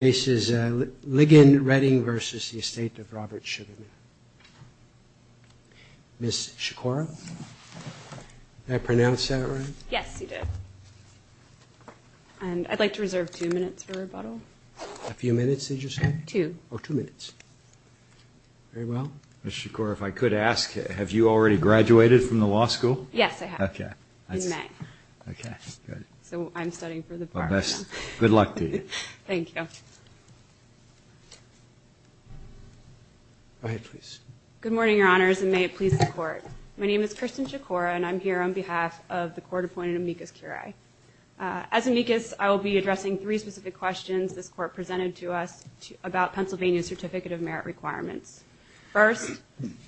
This is Liggon-Redding v. The Estateof Robert Sugarman. Ms. Shakora, did I pronounce that right? Yes, you did. And I'd like to reserve two minutes for rebuttal. A few minutes, did you say? Two. Oh, two minutes. Very well. Ms. Shakora, if I could ask, have you already graduated from the law school? Yes, I have. Okay. In May. Okay, good. So I'm studying for the bar exam. Good luck to you. Thank you. Go ahead, please. Good morning, Your Honors, and may it please the Court. My name is Kristen Shakora, and I'm here on behalf of the Court-appointed amicus curiae. As amicus, I will be addressing three specific questions this Court presented to us about Pennsylvania's certificate of merit requirements. First,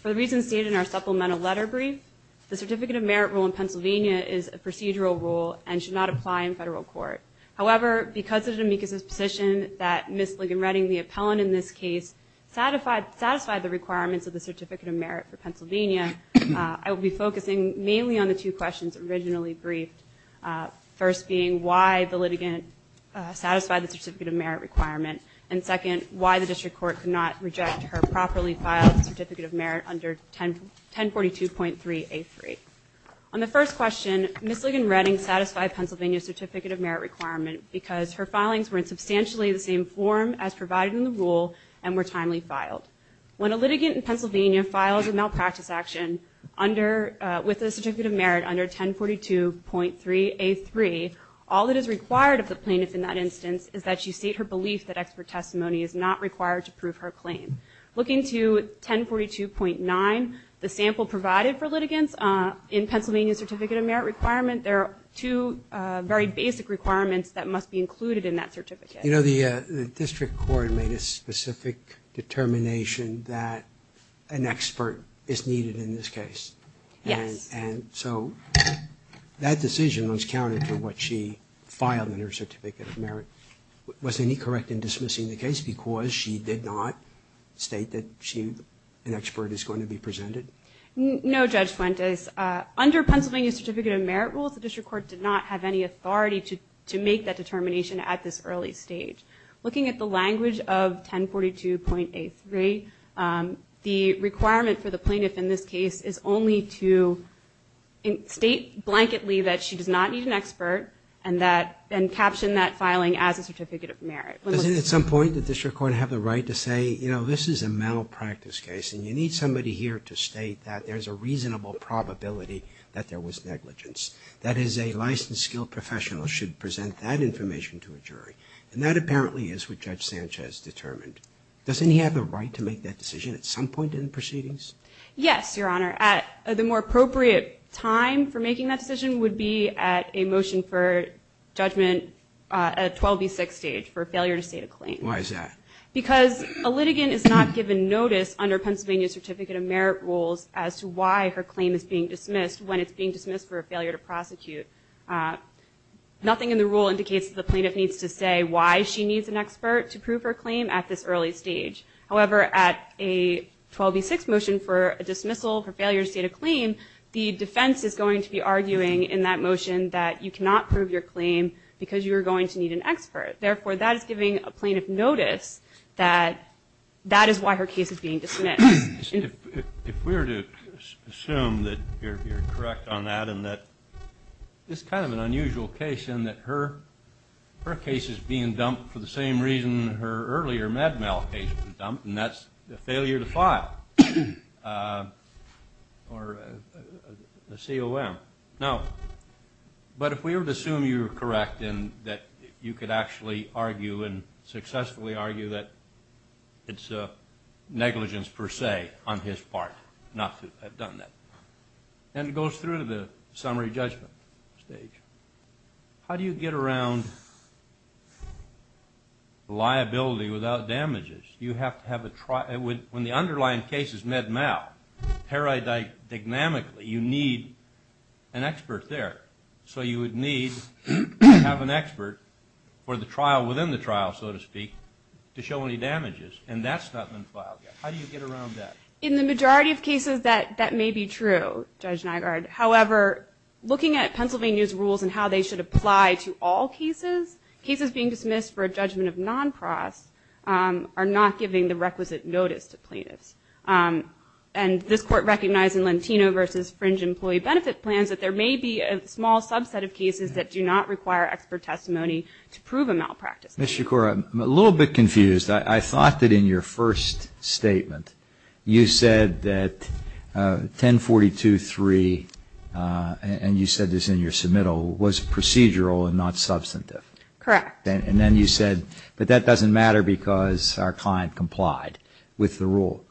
for the reasons stated in our supplemental letter brief, the certificate of merit rule in Pennsylvania is a procedural rule and should not apply in federal court. However, because of the amicus's position that Ms. Ligon-Redding, the appellant in this case, satisfied the requirements of the certificate of merit for Pennsylvania, I will be focusing mainly on the two questions originally briefed, first being why the litigant satisfied the certificate of merit requirement, and second, why the district court could not reject her properly filed certificate of merit under 1042.3a3. On the first question, Ms. Ligon-Redding satisfied Pennsylvania's certificate of merit requirement because her filings were in substantially the same form as provided in the rule and were timely filed. When a litigant in Pennsylvania files a malpractice action with a certificate of merit under 1042.3a3, all that is required of the plaintiff in that instance is that she state her belief that expert testimony is not required to prove her claim. Looking to 1042.9, the sample provided for litigants in Pennsylvania's certificate of merit requirement, there are two very basic requirements that must be included in that certificate. You know, the district court made a specific determination that an expert is needed in this case. Yes. And so that decision was counted for what she filed in her certificate of merit. Was any correct in dismissing the case because she did not state that an expert is going to be presented? No, Judge Fuentes. Under Pennsylvania's certificate of merit rules, the district court did not have any authority to make that determination at this early stage. Looking at the language of 1042.a3, the requirement for the plaintiff in this case is only to state blanketly that she does not need an expert and caption that filing as a certificate of merit. Doesn't at some point the district court have the right to say, you know, this is a malpractice case and you need somebody here to state that there's a reasonable probability that there was negligence? That is, a licensed skilled professional should present that information to a jury. And that apparently is what Judge Sanchez determined. Doesn't he have a right to make that decision at some point in the proceedings? Yes, Your Honor. At the more appropriate time for making that decision would be at a motion for judgment at 12b6 stage for failure to state a claim. Why is that? Because a litigant is not given notice under Pennsylvania's certificate of merit rules as to why her claim is being dismissed when it's being dismissed for a failure to prosecute. Nothing in the rule indicates that the plaintiff needs to say why she needs an expert to prove her claim at this early stage. However, at a 12b6 motion for a dismissal for failure to state a claim, the defense is going to be arguing in that motion that you cannot prove your claim because you are going to need an expert. Therefore, that is giving a plaintiff notice that that is why her case is being dismissed. If we were to assume that you're correct on that and that this is kind of an unusual case in that her case is being dumped for the same reason her earlier med mal case was dumped, and that's the failure to file or the COM. Now, but if we were to assume you were correct and that you could actually argue and successfully argue that it's negligence per se on his part not to have done that, then it goes through to the summary judgment stage. How do you get around liability without damages? When the underlying case is med mal paradigmatically, you need an expert there. So you would need to have an expert for the trial within the trial, so to speak, to show any damages. And that's not been filed yet. How do you get around that? In the majority of cases, that may be true, Judge Nygaard. However, looking at Pennsylvania's rules and how they should apply to all cases, cases being dismissed for a judgment of non-pros are not giving the requisite notice to plaintiffs. And this Court recognized in Lentino v. Fringe Employee Benefit Plans that there may be a small subset of cases that do not require expert testimony to prove a malpractice. Ms. Shakura, I'm a little bit confused. I thought that in your first statement you said that 1042.3, and you said this in your submittal, was procedural and not substantive. Correct. And then you said, but that doesn't matter because our client complied with the rule.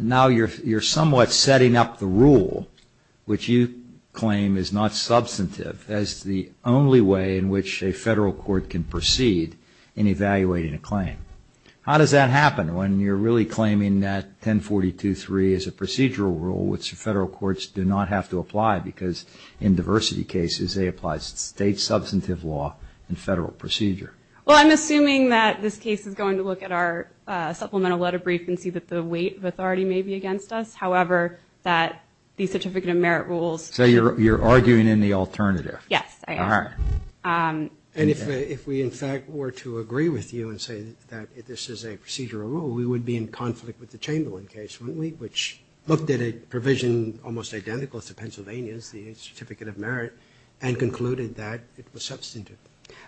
Now you're somewhat setting up the rule, which you claim is not substantive, as the only way in which a federal court can proceed in evaluating a claim. How does that happen when you're really claiming that 1042.3 is a procedural rule, which federal courts do not have to apply because in diversity cases they apply state substantive law and federal procedure? Well, I'm assuming that this case is going to look at our supplemental letter brief and see that the weight of authority may be against us. However, that the certificate of merit rules. So you're arguing in the alternative. Yes, I am. All right. And if we, in fact, were to agree with you and say that this is a procedural rule, we would be in conflict with the Chamberlain case, wouldn't we, which looked at a provision almost identical to Pennsylvania's, the certificate of merit, and concluded that it was substantive.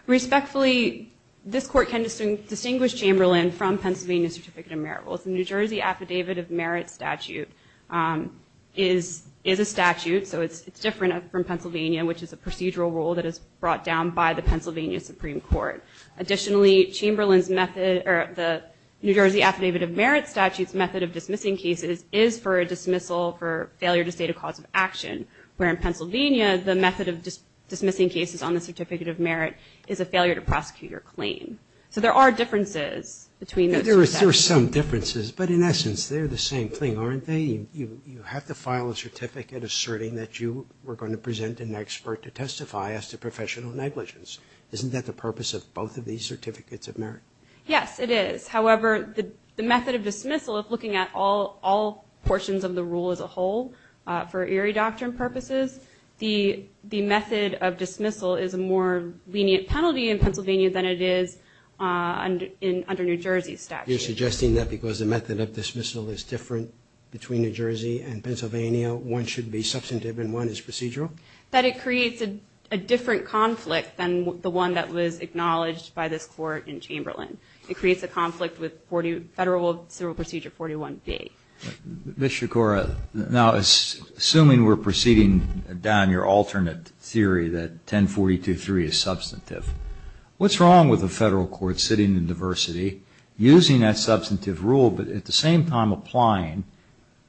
Respectfully, this Court can distinguish Chamberlain from Pennsylvania's certificate of merit rules. The New Jersey Affidavit of Merit statute is a statute, so it's different from Pennsylvania, which is a procedural rule that is brought down by the Pennsylvania Supreme Court. Additionally, the New Jersey Affidavit of Merit statute's method of dismissing cases is for a dismissal for failure to state a cause of action, where in Pennsylvania the method of dismissing cases on the certificate of merit is a failure to prosecute your claim. So there are differences between those. Yes, there are some differences, but in essence they're the same thing, aren't they? You have to file a certificate asserting that you were going to present an expert to testify as to professional negligence. Isn't that the purpose of both of these certificates of merit? Yes, it is. However, the method of dismissal, if looking at all portions of the rule as a whole for eerie doctrine purposes, the method of dismissal is a more lenient penalty in Pennsylvania than it is under New Jersey's statute. You're suggesting that because the method of dismissal is different between New Jersey and Pennsylvania, one should be substantive and one is procedural? That it creates a different conflict than the one that was acknowledged by this Court in Chamberlain. It creates a conflict with Federal Procedural Procedure 41B. Ms. Shikora, now assuming we're proceeding down your alternate theory that 1042.3 is substantive, what's wrong with a federal court sitting in diversity using that substantive rule but at the same time applying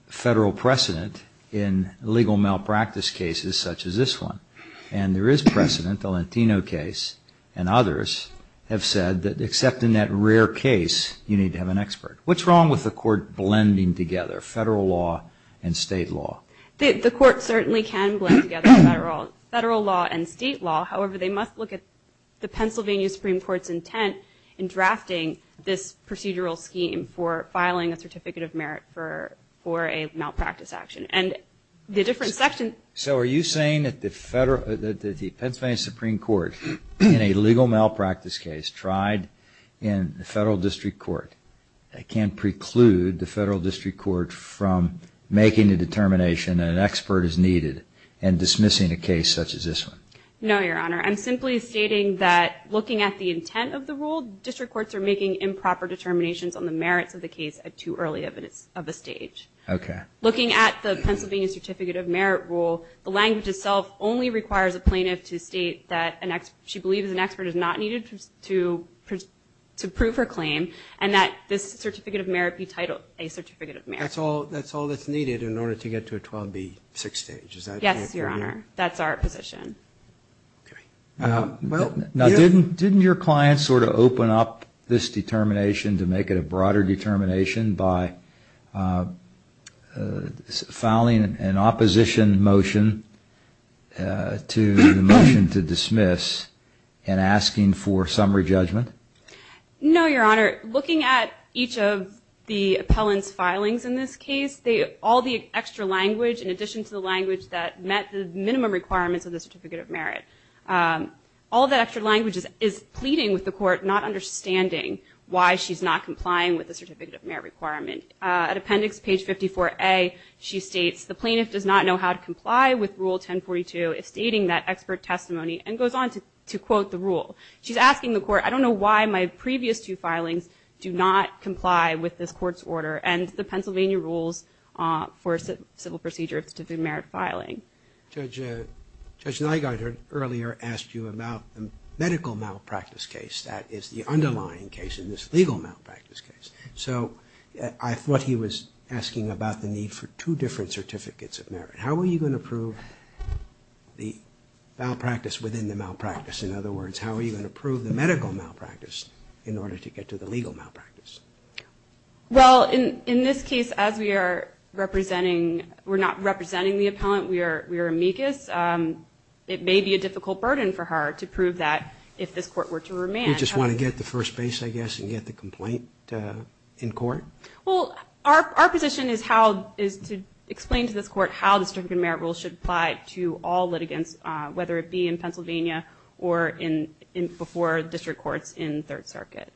federal precedent in legal malpractice cases such as this one? And there is precedent. The Lentino case and others have said that except in that rare case, you need to have an expert. What's wrong with the court blending together federal law and state law? The court certainly can blend together federal law and state law. However, they must look at the Pennsylvania Supreme Court's intent in drafting this procedural scheme for filing a certificate of merit for a malpractice action. So are you saying that the Pennsylvania Supreme Court in a legal malpractice case tried in the federal district court can preclude the federal district court from making the determination that an expert is needed and dismissing a case such as this one? No, Your Honor. I'm simply stating that looking at the intent of the rule, district courts are making improper determinations on the merits of the case at too early of a stage. Looking at the Pennsylvania Certificate of Merit rule, the language itself only requires a plaintiff to state that she believes an expert is not needed to prove her claim and that this Certificate of Merit be titled a Certificate of Merit. That's all that's needed in order to get to a 12B6 stage, is that correct? Yes, Your Honor. That's our position. Now didn't your client sort of open up this determination to make it a broader determination by filing an opposition motion to the motion to dismiss and asking for summary judgment? No, Your Honor. Looking at each of the appellant's filings in this case, all the extra language in addition to the language that met the minimum requirements of the Certificate of Merit, all that extra language is pleading with the court not understanding why she's not complying with the Certificate of Merit requirement. At appendix page 54A, she states, the plaintiff does not know how to comply with Rule 1042, stating that expert testimony and goes on to quote the rule. She's asking the court, I don't know why my previous two filings do not comply with this court's order and the Pennsylvania rules for civil procedure of Certificate of Merit filing. Judge Nygaard earlier asked you about the medical malpractice case. That is the underlying case in this legal malpractice case. So I thought he was asking about the need for two different Certificates of Merit. How are you going to prove the malpractice within the malpractice? In other words, how are you going to prove the medical malpractice in order to get to the legal malpractice? Well, in this case, as we are representing, we're not representing the appellant. We are amicus. It may be a difficult burden for her to prove that if this court were to remand. You just want to get the first base, I guess, and get the complaint in court? Well, our position is to explain to this court how the Certificate of Merit rule should apply to all litigants, whether it be in Pennsylvania or before district courts in Third Circuit.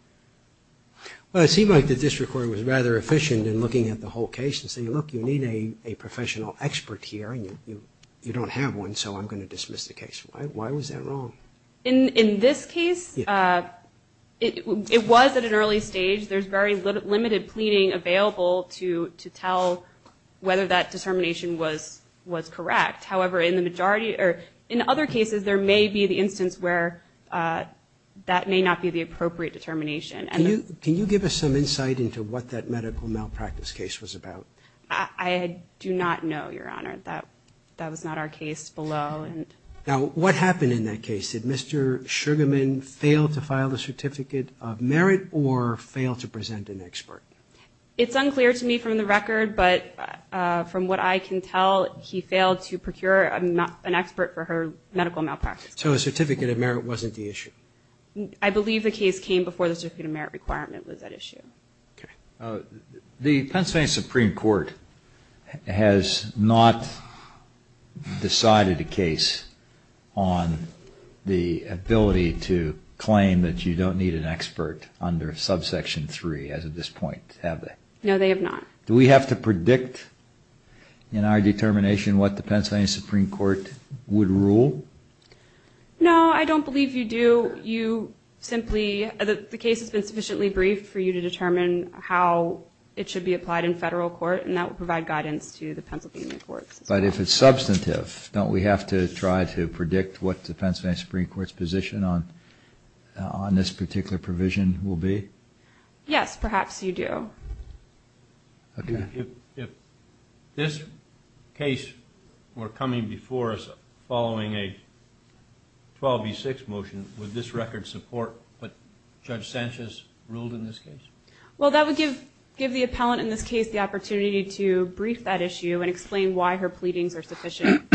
Well, it seemed like the district court was rather efficient in looking at the whole case and saying, look, you need a professional expert here, and you don't have one, so I'm going to dismiss the case. Why was that wrong? In this case, it was at an early stage. There's very limited pleading available to tell whether that determination was correct. However, in the majority or in other cases, there may be the instance where that may not be the appropriate determination. Can you give us some insight into what that medical malpractice case was about? I do not know, Your Honor. That was not our case below. Now, what happened in that case? Did Mr. Sugarman fail to file the Certificate of Merit or fail to present an expert? It's unclear to me from the record, but from what I can tell he failed to procure an expert for her medical malpractice. So a Certificate of Merit wasn't the issue? I believe the case came before the Certificate of Merit requirement was at issue. The Pennsylvania Supreme Court has not decided a case on the ability to claim that you don't need an expert under Subsection 3 as of this point, have they? No, they have not. Do we have to predict in our determination what the Pennsylvania Supreme Court would rule? No, I don't believe you do. The case has been sufficiently briefed for you to determine how it should be applied in federal court, and that would provide guidance to the Pennsylvania courts. But if it's substantive, don't we have to try to predict what the Pennsylvania Supreme Court's position on this particular provision will be? Yes, perhaps you do. Okay. If this case were coming before us following a 12B6 motion, would this record support what Judge Sanchez ruled in this case? Well, that would give the appellant in this case the opportunity to brief that issue and explain why her pleadings are sufficient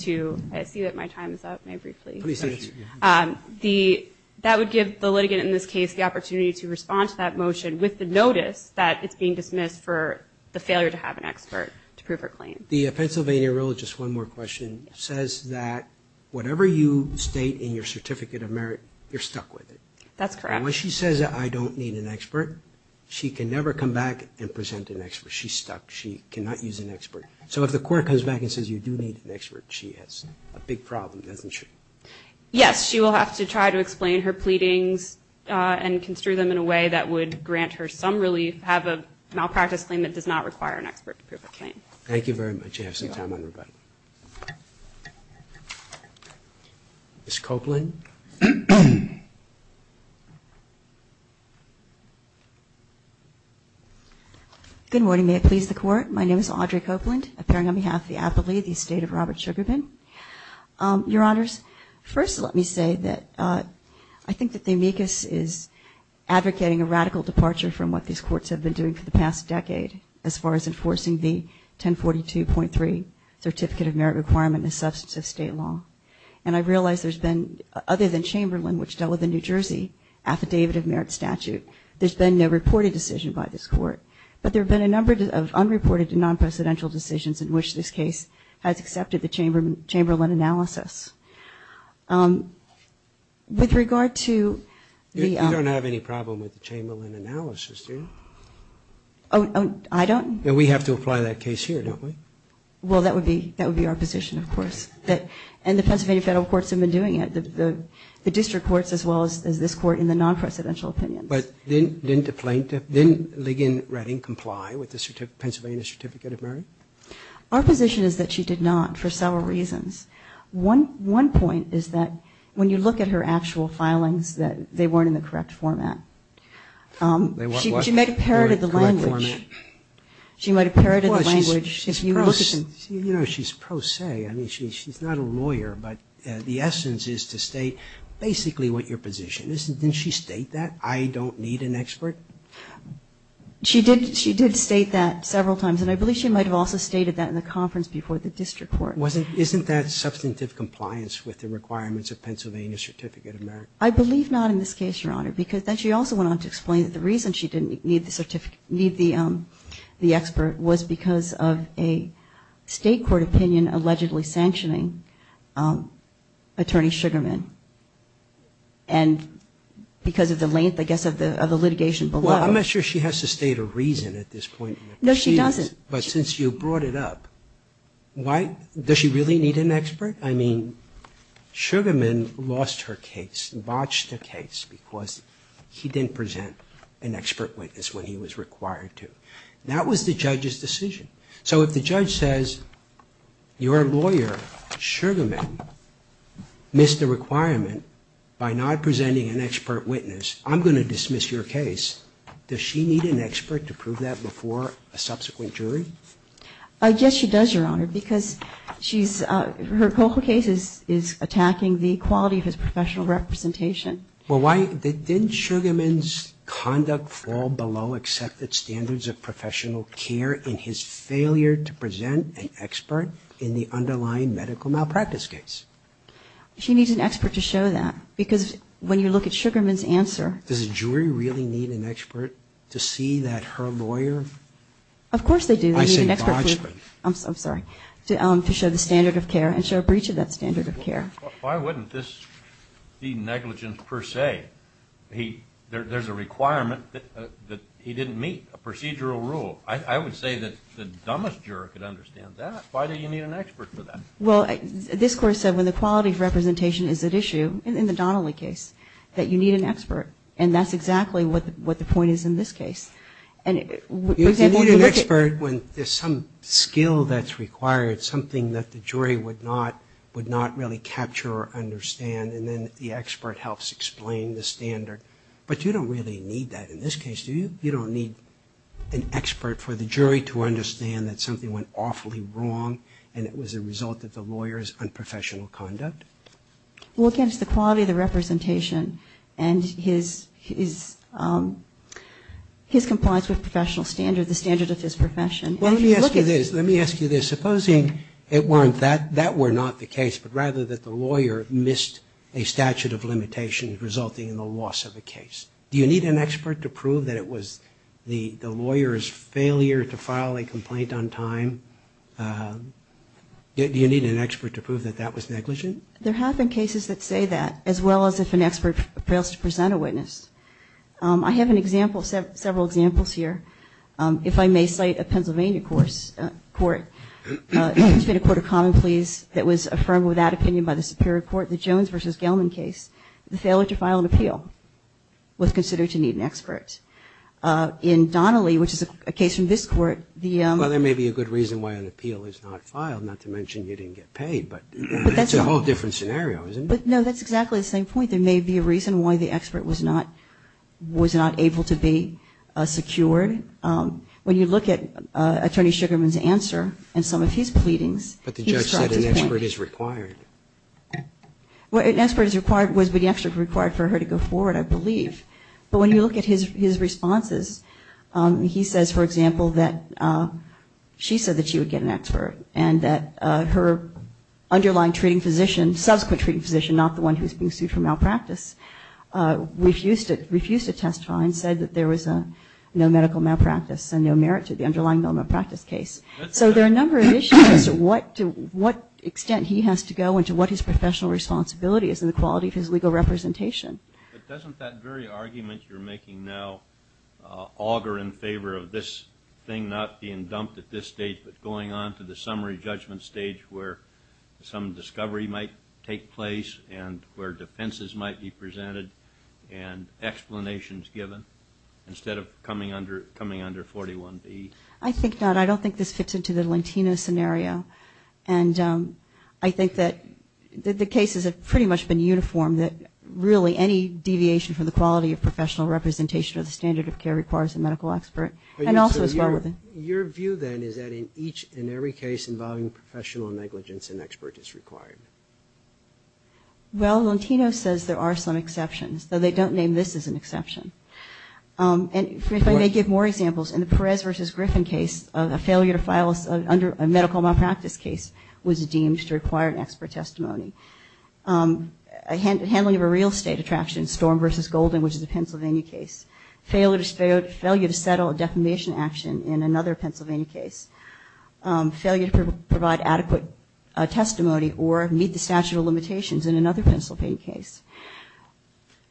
to – I see that my time is up, may I brief, please? Please do. That would give the litigant in this case the opportunity to respond to that motion with the notice that it's being dismissed for the failure to have an expert to prove her claim. The Pennsylvania rule, just one more question, says that whatever you state in your Certificate of Merit, you're stuck with it. That's correct. And when she says I don't need an expert, she can never come back and present an expert. She's stuck. She cannot use an expert. So if the court comes back and says you do need an expert, she has a big problem, doesn't she? Yes. She will have to try to explain her pleadings and construe them in a way that would grant her some relief, have a malpractice claim that does not require an expert to prove her claim. Thank you very much. I have some time on my button. Ms. Copeland? Good morning. May it please the Court. My name is Audrey Copeland, appearing on behalf of the appellee, the estate of Robert Sugarbin. Your Honors, first let me say that I think that the amicus is advocating a radical departure from what these courts have been doing for the past decade as far as enforcing the 1042.3 Certificate of Merit requirement in the substance of state law. And I realize there's been, other than Chamberlain, which dealt with the New Jersey Affidavit of Merit statute, there's been no reported decision by this Court. But there have been a number of unreported and non-presidential decisions in which this case has accepted the Chamberlain analysis. With regard to the- You don't have any problem with the Chamberlain analysis, do you? Oh, I don't? We have to apply that case here, don't we? Well, that would be our position, of course. And the Pennsylvania federal courts have been doing it, the district courts as well as this Court in the non-presidential opinions. But didn't Ligon Redding comply with the Pennsylvania Certificate of Merit? Our position is that she did not for several reasons. One point is that when you look at her actual filings, that they weren't in the correct format. She might have parroted the language. She might have parroted the language. She's pro se. I mean, she's not a lawyer, but the essence is to state basically what your position is. Didn't she state that? I don't need an expert? She did state that several times, and I believe she might have also stated that in the conference before the district court. Isn't that substantive compliance with the requirements of Pennsylvania Certificate of Merit? I believe not in this case, Your Honor, because she also went on to explain that the reason she didn't need the expert was because of a state court opinion allegedly sanctioning Attorney Sugarman and because of the length, I guess, of the litigation below. Well, I'm not sure she has to state a reason at this point. No, she doesn't. But since you brought it up, does she really need an expert? I mean, Sugarman lost her case, botched her case, because he didn't present an expert witness when he was required to. That was the judge's decision. So if the judge says your lawyer, Sugarman, missed the requirement by not presenting an expert witness, I'm going to dismiss your case. Does she need an expert to prove that before a subsequent jury? Yes, she does, Your Honor, because her case is attacking the quality of his professional representation. Well, didn't Sugarman's conduct fall below accepted standards of professional care in his failure to present an expert in the underlying medical malpractice case? She needs an expert to show that, because when you look at Sugarman's answer – Does a jury really need an expert to see that her lawyer – Of course they do. I say botched, but – I'm sorry, to show the standard of care and show a breach of that standard of care. Why wouldn't this be negligence per se? There's a requirement that he didn't meet, a procedural rule. I would say that the dumbest juror could understand that. Why do you need an expert for that? Well, this Court said when the quality of representation is at issue, in the Donnelly case, that you need an expert. And that's exactly what the point is in this case. You need an expert when there's some skill that's required, something that the jury would not really capture or understand, and then the expert helps explain the standard. But you don't really need that in this case, do you? You don't need an expert for the jury to understand that something went awfully wrong, and it was a result of the lawyer's unprofessional conduct? Well, again, it's the quality of the representation and his compliance with professional standards, the standard of his profession. Let me ask you this. Supposing it weren't that, that were not the case, but rather that the lawyer missed a statute of limitations resulting in the loss of a case. Do you need an expert to prove that it was the lawyer's failure to file a complaint on time? Do you need an expert to prove that that was negligent? There have been cases that say that, as well as if an expert fails to present a witness. I have several examples here. If I may cite a Pennsylvania court, it's been a court of common pleas that was affirmed with that opinion by the Superior Court. The Jones v. Gelman case, the failure to file an appeal was considered to need an expert. In Donnelly, which is a case from this court, the – Well, there may be a good reason why an appeal is not filed, not to mention you didn't get paid, but that's a whole different scenario, isn't it? No, that's exactly the same point. There may be a reason why the expert was not able to be secured. When you look at Attorney Sugarman's answer and some of his pleadings, he struck his point. But the judge said an expert is required. Well, an expert is required, was the expert required for her to go forward, I believe. But when you look at his responses, he says, for example, that she said that she would get an expert and that her underlying treating physician, subsequent treating physician, not the one who's being sued for malpractice, refused to testify and said that there was no medical malpractice and no merit to the underlying malpractice case. So there are a number of issues as to what extent he has to go and to what his professional responsibility is in the quality of his legal representation. But doesn't that very argument you're making now augur in favor of this thing not being dumped at this stage but going on to the summary judgment stage where some discovery might take place and where defenses might be presented and explanations given instead of coming under 41B? I think not. I don't think this fits into the Lentino scenario. And I think that the cases have pretty much been uniform, that really any deviation from the quality of professional representation or the standard of care requires a medical expert. And also, as well, your view then is that in each and every case involving professional negligence, an expert is required. Well, Lentino says there are some exceptions, though they don't name this as an exception. And if I may give more examples. In the Perez v. Griffin case, a medical malpractice case was deemed to require an expert testimony. Handling of a real estate attraction, Storm v. Golden, which is a Pennsylvania case. Failure to settle a defamation action in another Pennsylvania case. Failure to provide adequate testimony or meet the statute of limitations in another Pennsylvania case.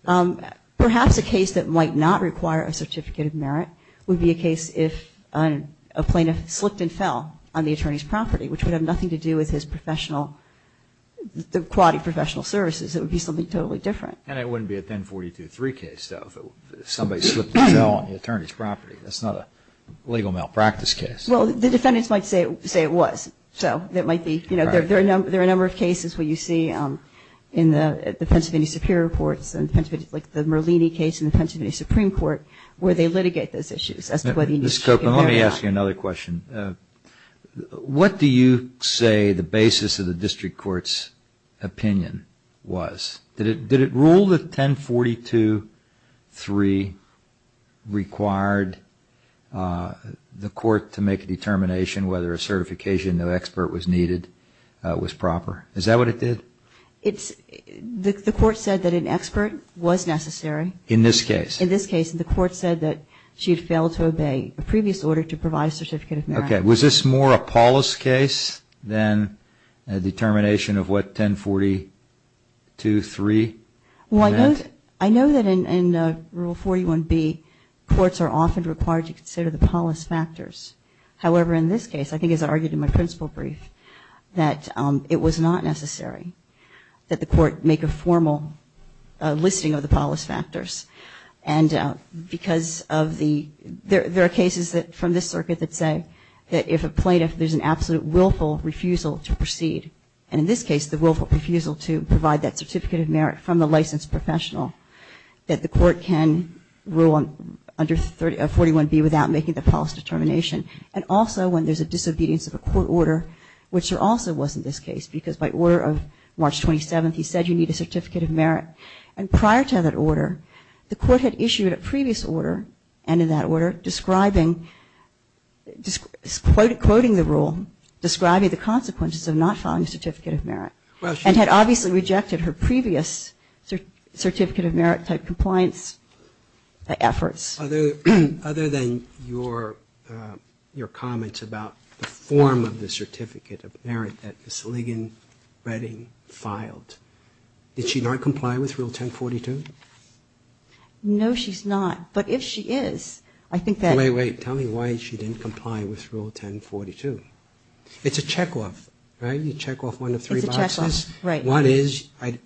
Perhaps a case that might not require a certificate of merit would be a case if a plaintiff slipped and fell on the attorney's property, which would have nothing to do with his professional, the quality of professional services. It would be something totally different. And it wouldn't be a 1042-3 case, though, if somebody slipped and fell on the attorney's property. That's not a legal malpractice case. Well, the defendants might say it was. There are a number of cases where you see in the Pennsylvania Superior Courts, like the Merlini case in the Pennsylvania Supreme Court, where they litigate those issues. Ms. Copeland, let me ask you another question. What do you say the basis of the district court's opinion was? Did it rule that 1042-3 required the court to make a determination whether a certification of expert was needed, was proper? Is that what it did? The court said that an expert was necessary. In this case? In this case. The court said that she had failed to obey a previous order to provide a certificate of merit. Okay. Was this more a polis case than a determination of what 1042-3 meant? Well, I know that in Rule 41B, courts are often required to consider the polis factors. However, in this case, I think as I argued in my principle brief, that it was not necessary that the court make a formal listing of the polis factors. And because of the, there are cases from this circuit that say that if a plaintiff, there's an absolute willful refusal to proceed. And in this case, the willful refusal to provide that certificate of merit from the licensed professional, that the court can rule under 41B without making the polis determination. And also, when there's a disobedience of a court order, which there also was in this case, because by order of March 27th, he said you need a certificate of merit. And prior to that order, the court had issued a previous order, and in that order, describing, quoting the rule, describing the consequences of not filing a certificate of merit. And had obviously rejected her previous certificate of merit type compliance efforts. Other than your comments about the form of the certificate of merit that Ms. Ligon-Redding filed, did she not comply with Rule 1042? No, she's not. But if she is, I think that. Wait, wait. Tell me why she didn't comply with Rule 1042. It's a checkoff, right? You check off one of three boxes. It's a checkoff, right. One is, an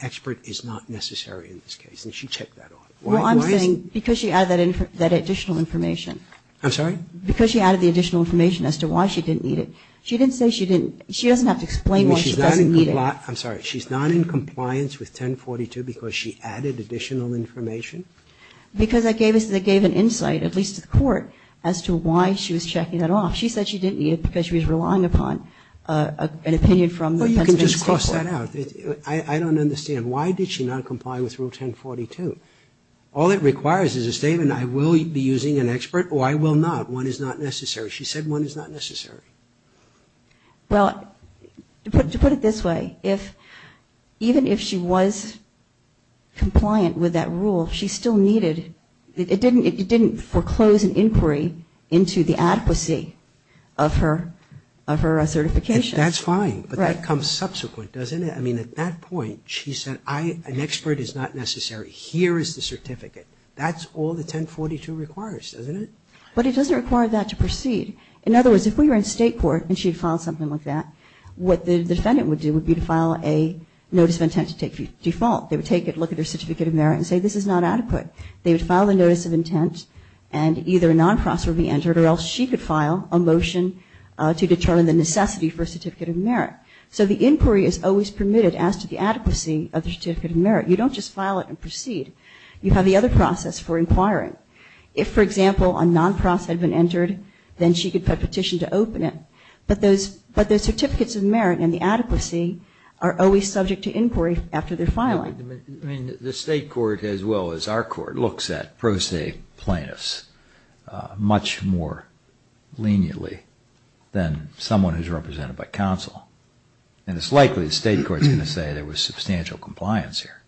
expert is not necessary in this case, and she checked that off. Well, I'm saying because she added that additional information. I'm sorry? Because she added the additional information as to why she didn't need it. She didn't say she didn't, she doesn't have to explain why she doesn't need it. I'm sorry, she's not in compliance with 1042 because she added additional information? Because I gave an insight, at least to the court, as to why she was checking that off. She said she didn't need it because she was relying upon an opinion from the Pennsylvania State Court. Well, you can just cross that out. I don't understand. Why did she not comply with Rule 1042? All it requires is a statement, I will be using an expert, or I will not. One is not necessary. She said one is not necessary. Well, to put it this way, even if she was compliant with that rule, she still needed, it didn't foreclose an inquiry into the adequacy of her certification. That's fine. Right. But that comes subsequent, doesn't it? I mean, at that point, she said an expert is not necessary. Here is the certificate. That's all the 1042 requires, doesn't it? But it doesn't require that to proceed. In other words, if we were in state court and she had filed something like that, what the defendant would do would be to file a notice of intent to take default. They would take a look at their certificate of merit and say this is not adequate. They would file a notice of intent and either a non-process would be entered or else she could file a motion to determine the necessity for a certificate of merit. So the inquiry is always permitted as to the adequacy of the certificate of merit. You don't just file it and proceed. You have the other process for inquiring. If, for example, a non-process had been entered, then she could petition to open it. But the certificates of merit and the adequacy are always subject to inquiry after their filing. I mean, the state court as well as our court looks at pro se plaintiffs much more leniently than someone who is represented by counsel. And it's likely the state court is going to say there was substantial compliance here.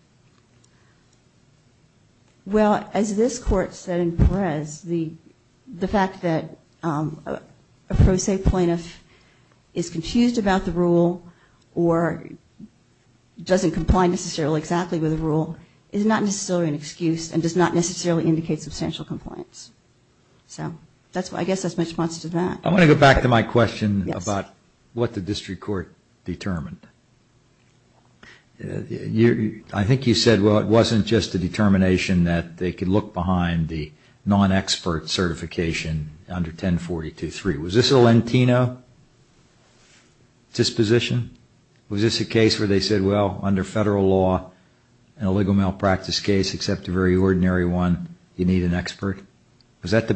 Well, as this court said in Perez, the fact that a pro se plaintiff is confused about the rule or doesn't comply necessarily exactly with the rule is not necessarily an excuse and does not necessarily indicate substantial compliance. So I guess that's my response to that. I want to go back to my question about what the district court determined. I think you said, well, it wasn't just a determination that they could look behind the non-expert certification under 1042.3. Was this a Lentino disposition? Was this a case where they said, well, under federal law, an illegal malpractice case except a very ordinary one, you need an expert? I can't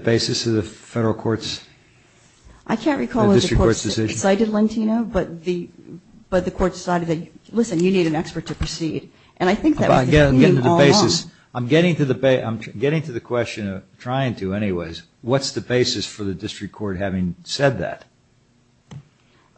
recall if the court cited Lentino, but the court decided that, listen, you need an expert to proceed. And I think that was the meaning all along. I'm getting to the question of trying to anyways. What's the basis for the district court having said that?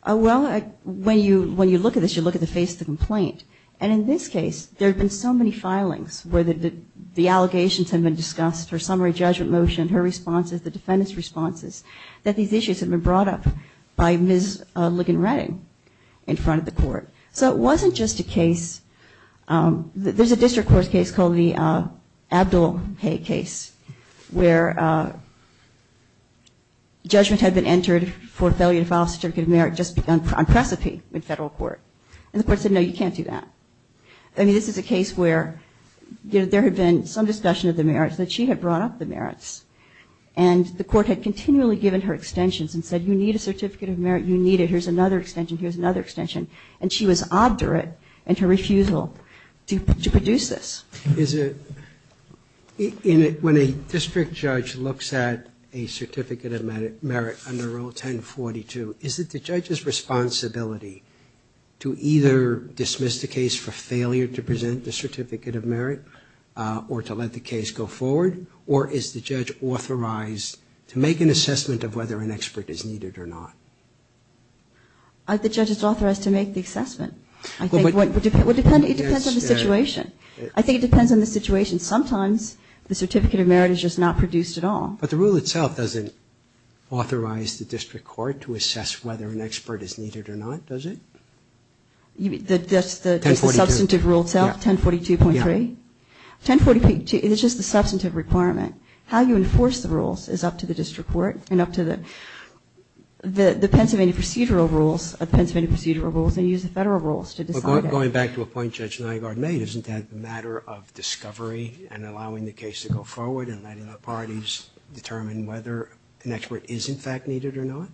Well, when you look at this, you look at the face of the complaint. And in this case, there have been so many filings where the allegations have been discussed, her summary judgment motion, her responses, the defendant's responses, that these issues have been brought up by Ms. Ligon-Redding in front of the court. So it wasn't just a case. There's a district court case called the Abdul-Hay case where judgment had been entered for failure to file a certificate of merit just on precipi in federal court. And the court said, no, you can't do that. I mean, this is a case where there had been some discussion of the merits, that she had brought up the merits. And the court had continually given her extensions and said, you need a certificate of merit, you need it. Here's another extension, here's another extension. And she was obdurate in her refusal to produce this. When a district judge looks at a certificate of merit under Rule 1042, is it the judge's responsibility to either dismiss the case for failure to present the certificate of merit or to let the case go forward, or is the judge authorized to make an assessment of whether an expert is needed or not? The judge is authorized to make the assessment. It depends on the situation. I think it depends on the situation. Sometimes the certificate of merit is just not produced at all. But the rule itself doesn't authorize the district court to assess whether an expert is needed or not, does it? That's the substantive rule itself, 1042.3? It's just the substantive requirement. How you enforce the rules is up to the district court and up to the Pennsylvania procedural rules, the Pennsylvania procedural rules, and you use the federal rules to decide it. Going back to a point Judge Nygaard made, isn't that a matter of discovery and allowing the case to go forward and letting the parties determine whether an expert is, in fact, needed or not?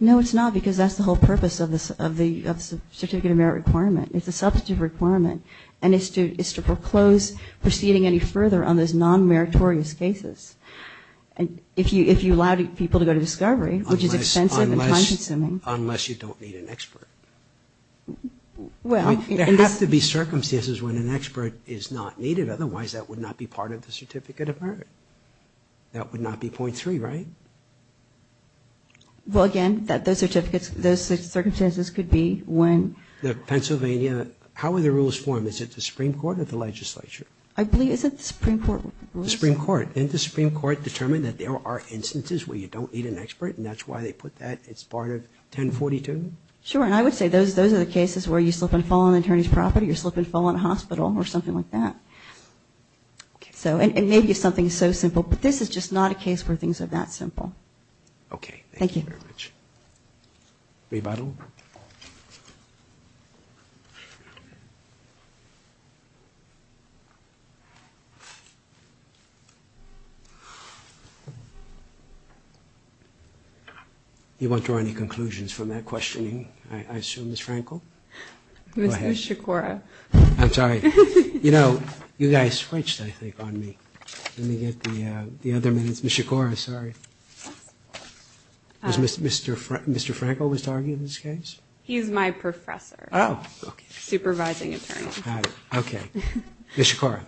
No, it's not, because that's the whole purpose of the certificate of merit requirement. It's a substantive requirement, and it's to proclose proceeding any further on those non-meritorious cases. If you allow people to go to discovery, which is expensive and time-consuming. Unless you don't need an expert. There have to be circumstances when an expert is not needed, otherwise that would not be part of the certificate of merit. That would not be .3, right? Well, again, those circumstances could be when... The Pennsylvania... how are the rules formed? Is it the Supreme Court or the legislature? I believe it's the Supreme Court rules. The Supreme Court. Didn't the Supreme Court determine that there are instances where you don't need an expert, and that's why they put that as part of 1042? Sure, and I would say those are the cases where you slip and fall on an attorney's property or you slip and fall in a hospital or something like that. And maybe it's something so simple, but this is just not a case where things are that simple. Okay. Thank you. Thank you very much. Rebuttal? You won't draw any conclusions from that questioning, I assume, Ms. Frankel? Ms. Shakura. I'm sorry. You know, you guys switched, I think, on me. Let me get the other minutes. Ms. Shakura, sorry. Was Mr. Frankel was to argue in this case? He's my professor. Oh, okay. Supervising attorney. Okay. Ms. Shakura.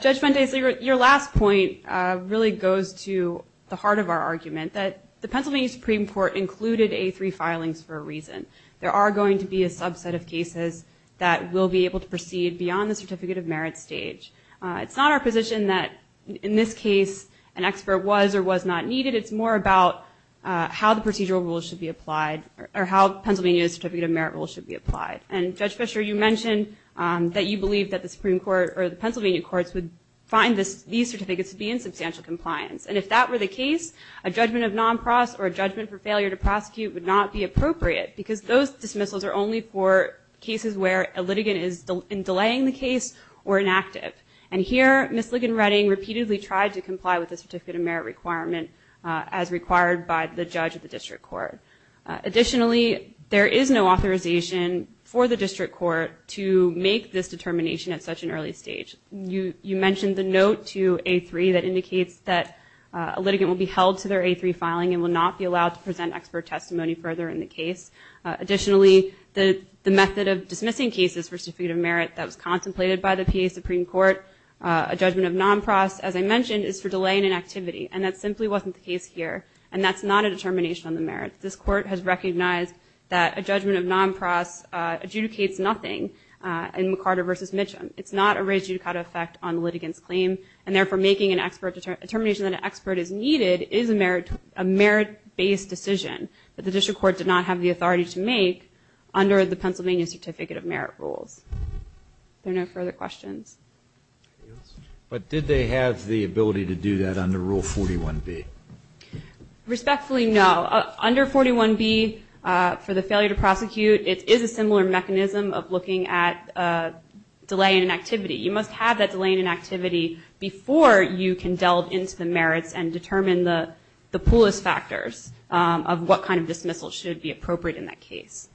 Judge Mendez, your last point really goes to the heart of our argument, that the Pennsylvania Supreme Court included A3 filings for a reason. There are going to be a subset of cases that will be able to proceed beyond the certificate of merit stage. It's not our position that, in this case, an expert was or was not needed. It's more about how the procedural rules should be applied or how Pennsylvania's certificate of merit rules should be applied. And, Judge Fischer, you mentioned that you believe that the Supreme Court or the Pennsylvania courts would find these certificates to be in substantial compliance. And if that were the case, a judgment of non-pros or a judgment for failure to prosecute would not be appropriate because those dismissals are only for cases where a litigant is delaying the case or inactive. And here, Ms. Ligon-Redding repeatedly tried to comply with the certificate of merit requirement as required by the judge of the district court. Additionally, there is no authorization for the district court to make this determination at such an early stage. You mentioned the note to A3 that indicates that a litigant will be held to their A3 filing and will not be allowed to present expert testimony further in the case. Additionally, the method of dismissing cases for certificate of merit that was contemplated by the PA Supreme Court, a judgment of non-pros, as I mentioned, is for delay in an activity. And that simply wasn't the case here. And that's not a determination on the merit. This Court has recognized that a judgment of non-pros adjudicates nothing in McCarter v. Mitchum. It's not a raised judicata effect on the litigant's claim. And therefore, making a determination that an expert is needed is a merit-based decision that the district court did not have the authority to make under the Pennsylvania Certificate of Merit rules. Are there no further questions? But did they have the ability to do that under Rule 41B? Respectfully, no. Under 41B, for the failure to prosecute, it is a similar mechanism of looking at delay in an activity. You must have that delay in an activity before you can delve into the merits and determine the poorest factors of what kind of dismissal should be appropriate in that case.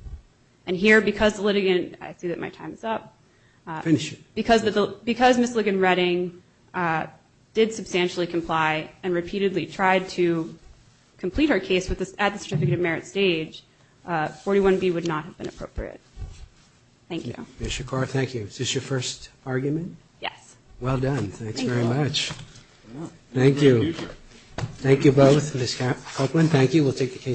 And here, because the litigant – I see that my time is up. Finish it. Because Ms. Ligon-Redding did substantially comply and repeatedly tried to complete her case at the certificate of merit stage, 41B would not have been appropriate. Thank you. Ms. Shakar, thank you. Is this your first argument? Yes. Well done. Thank you very much. Thank you. Thank you both. Ms. Copeland, thank you. We'll take the case.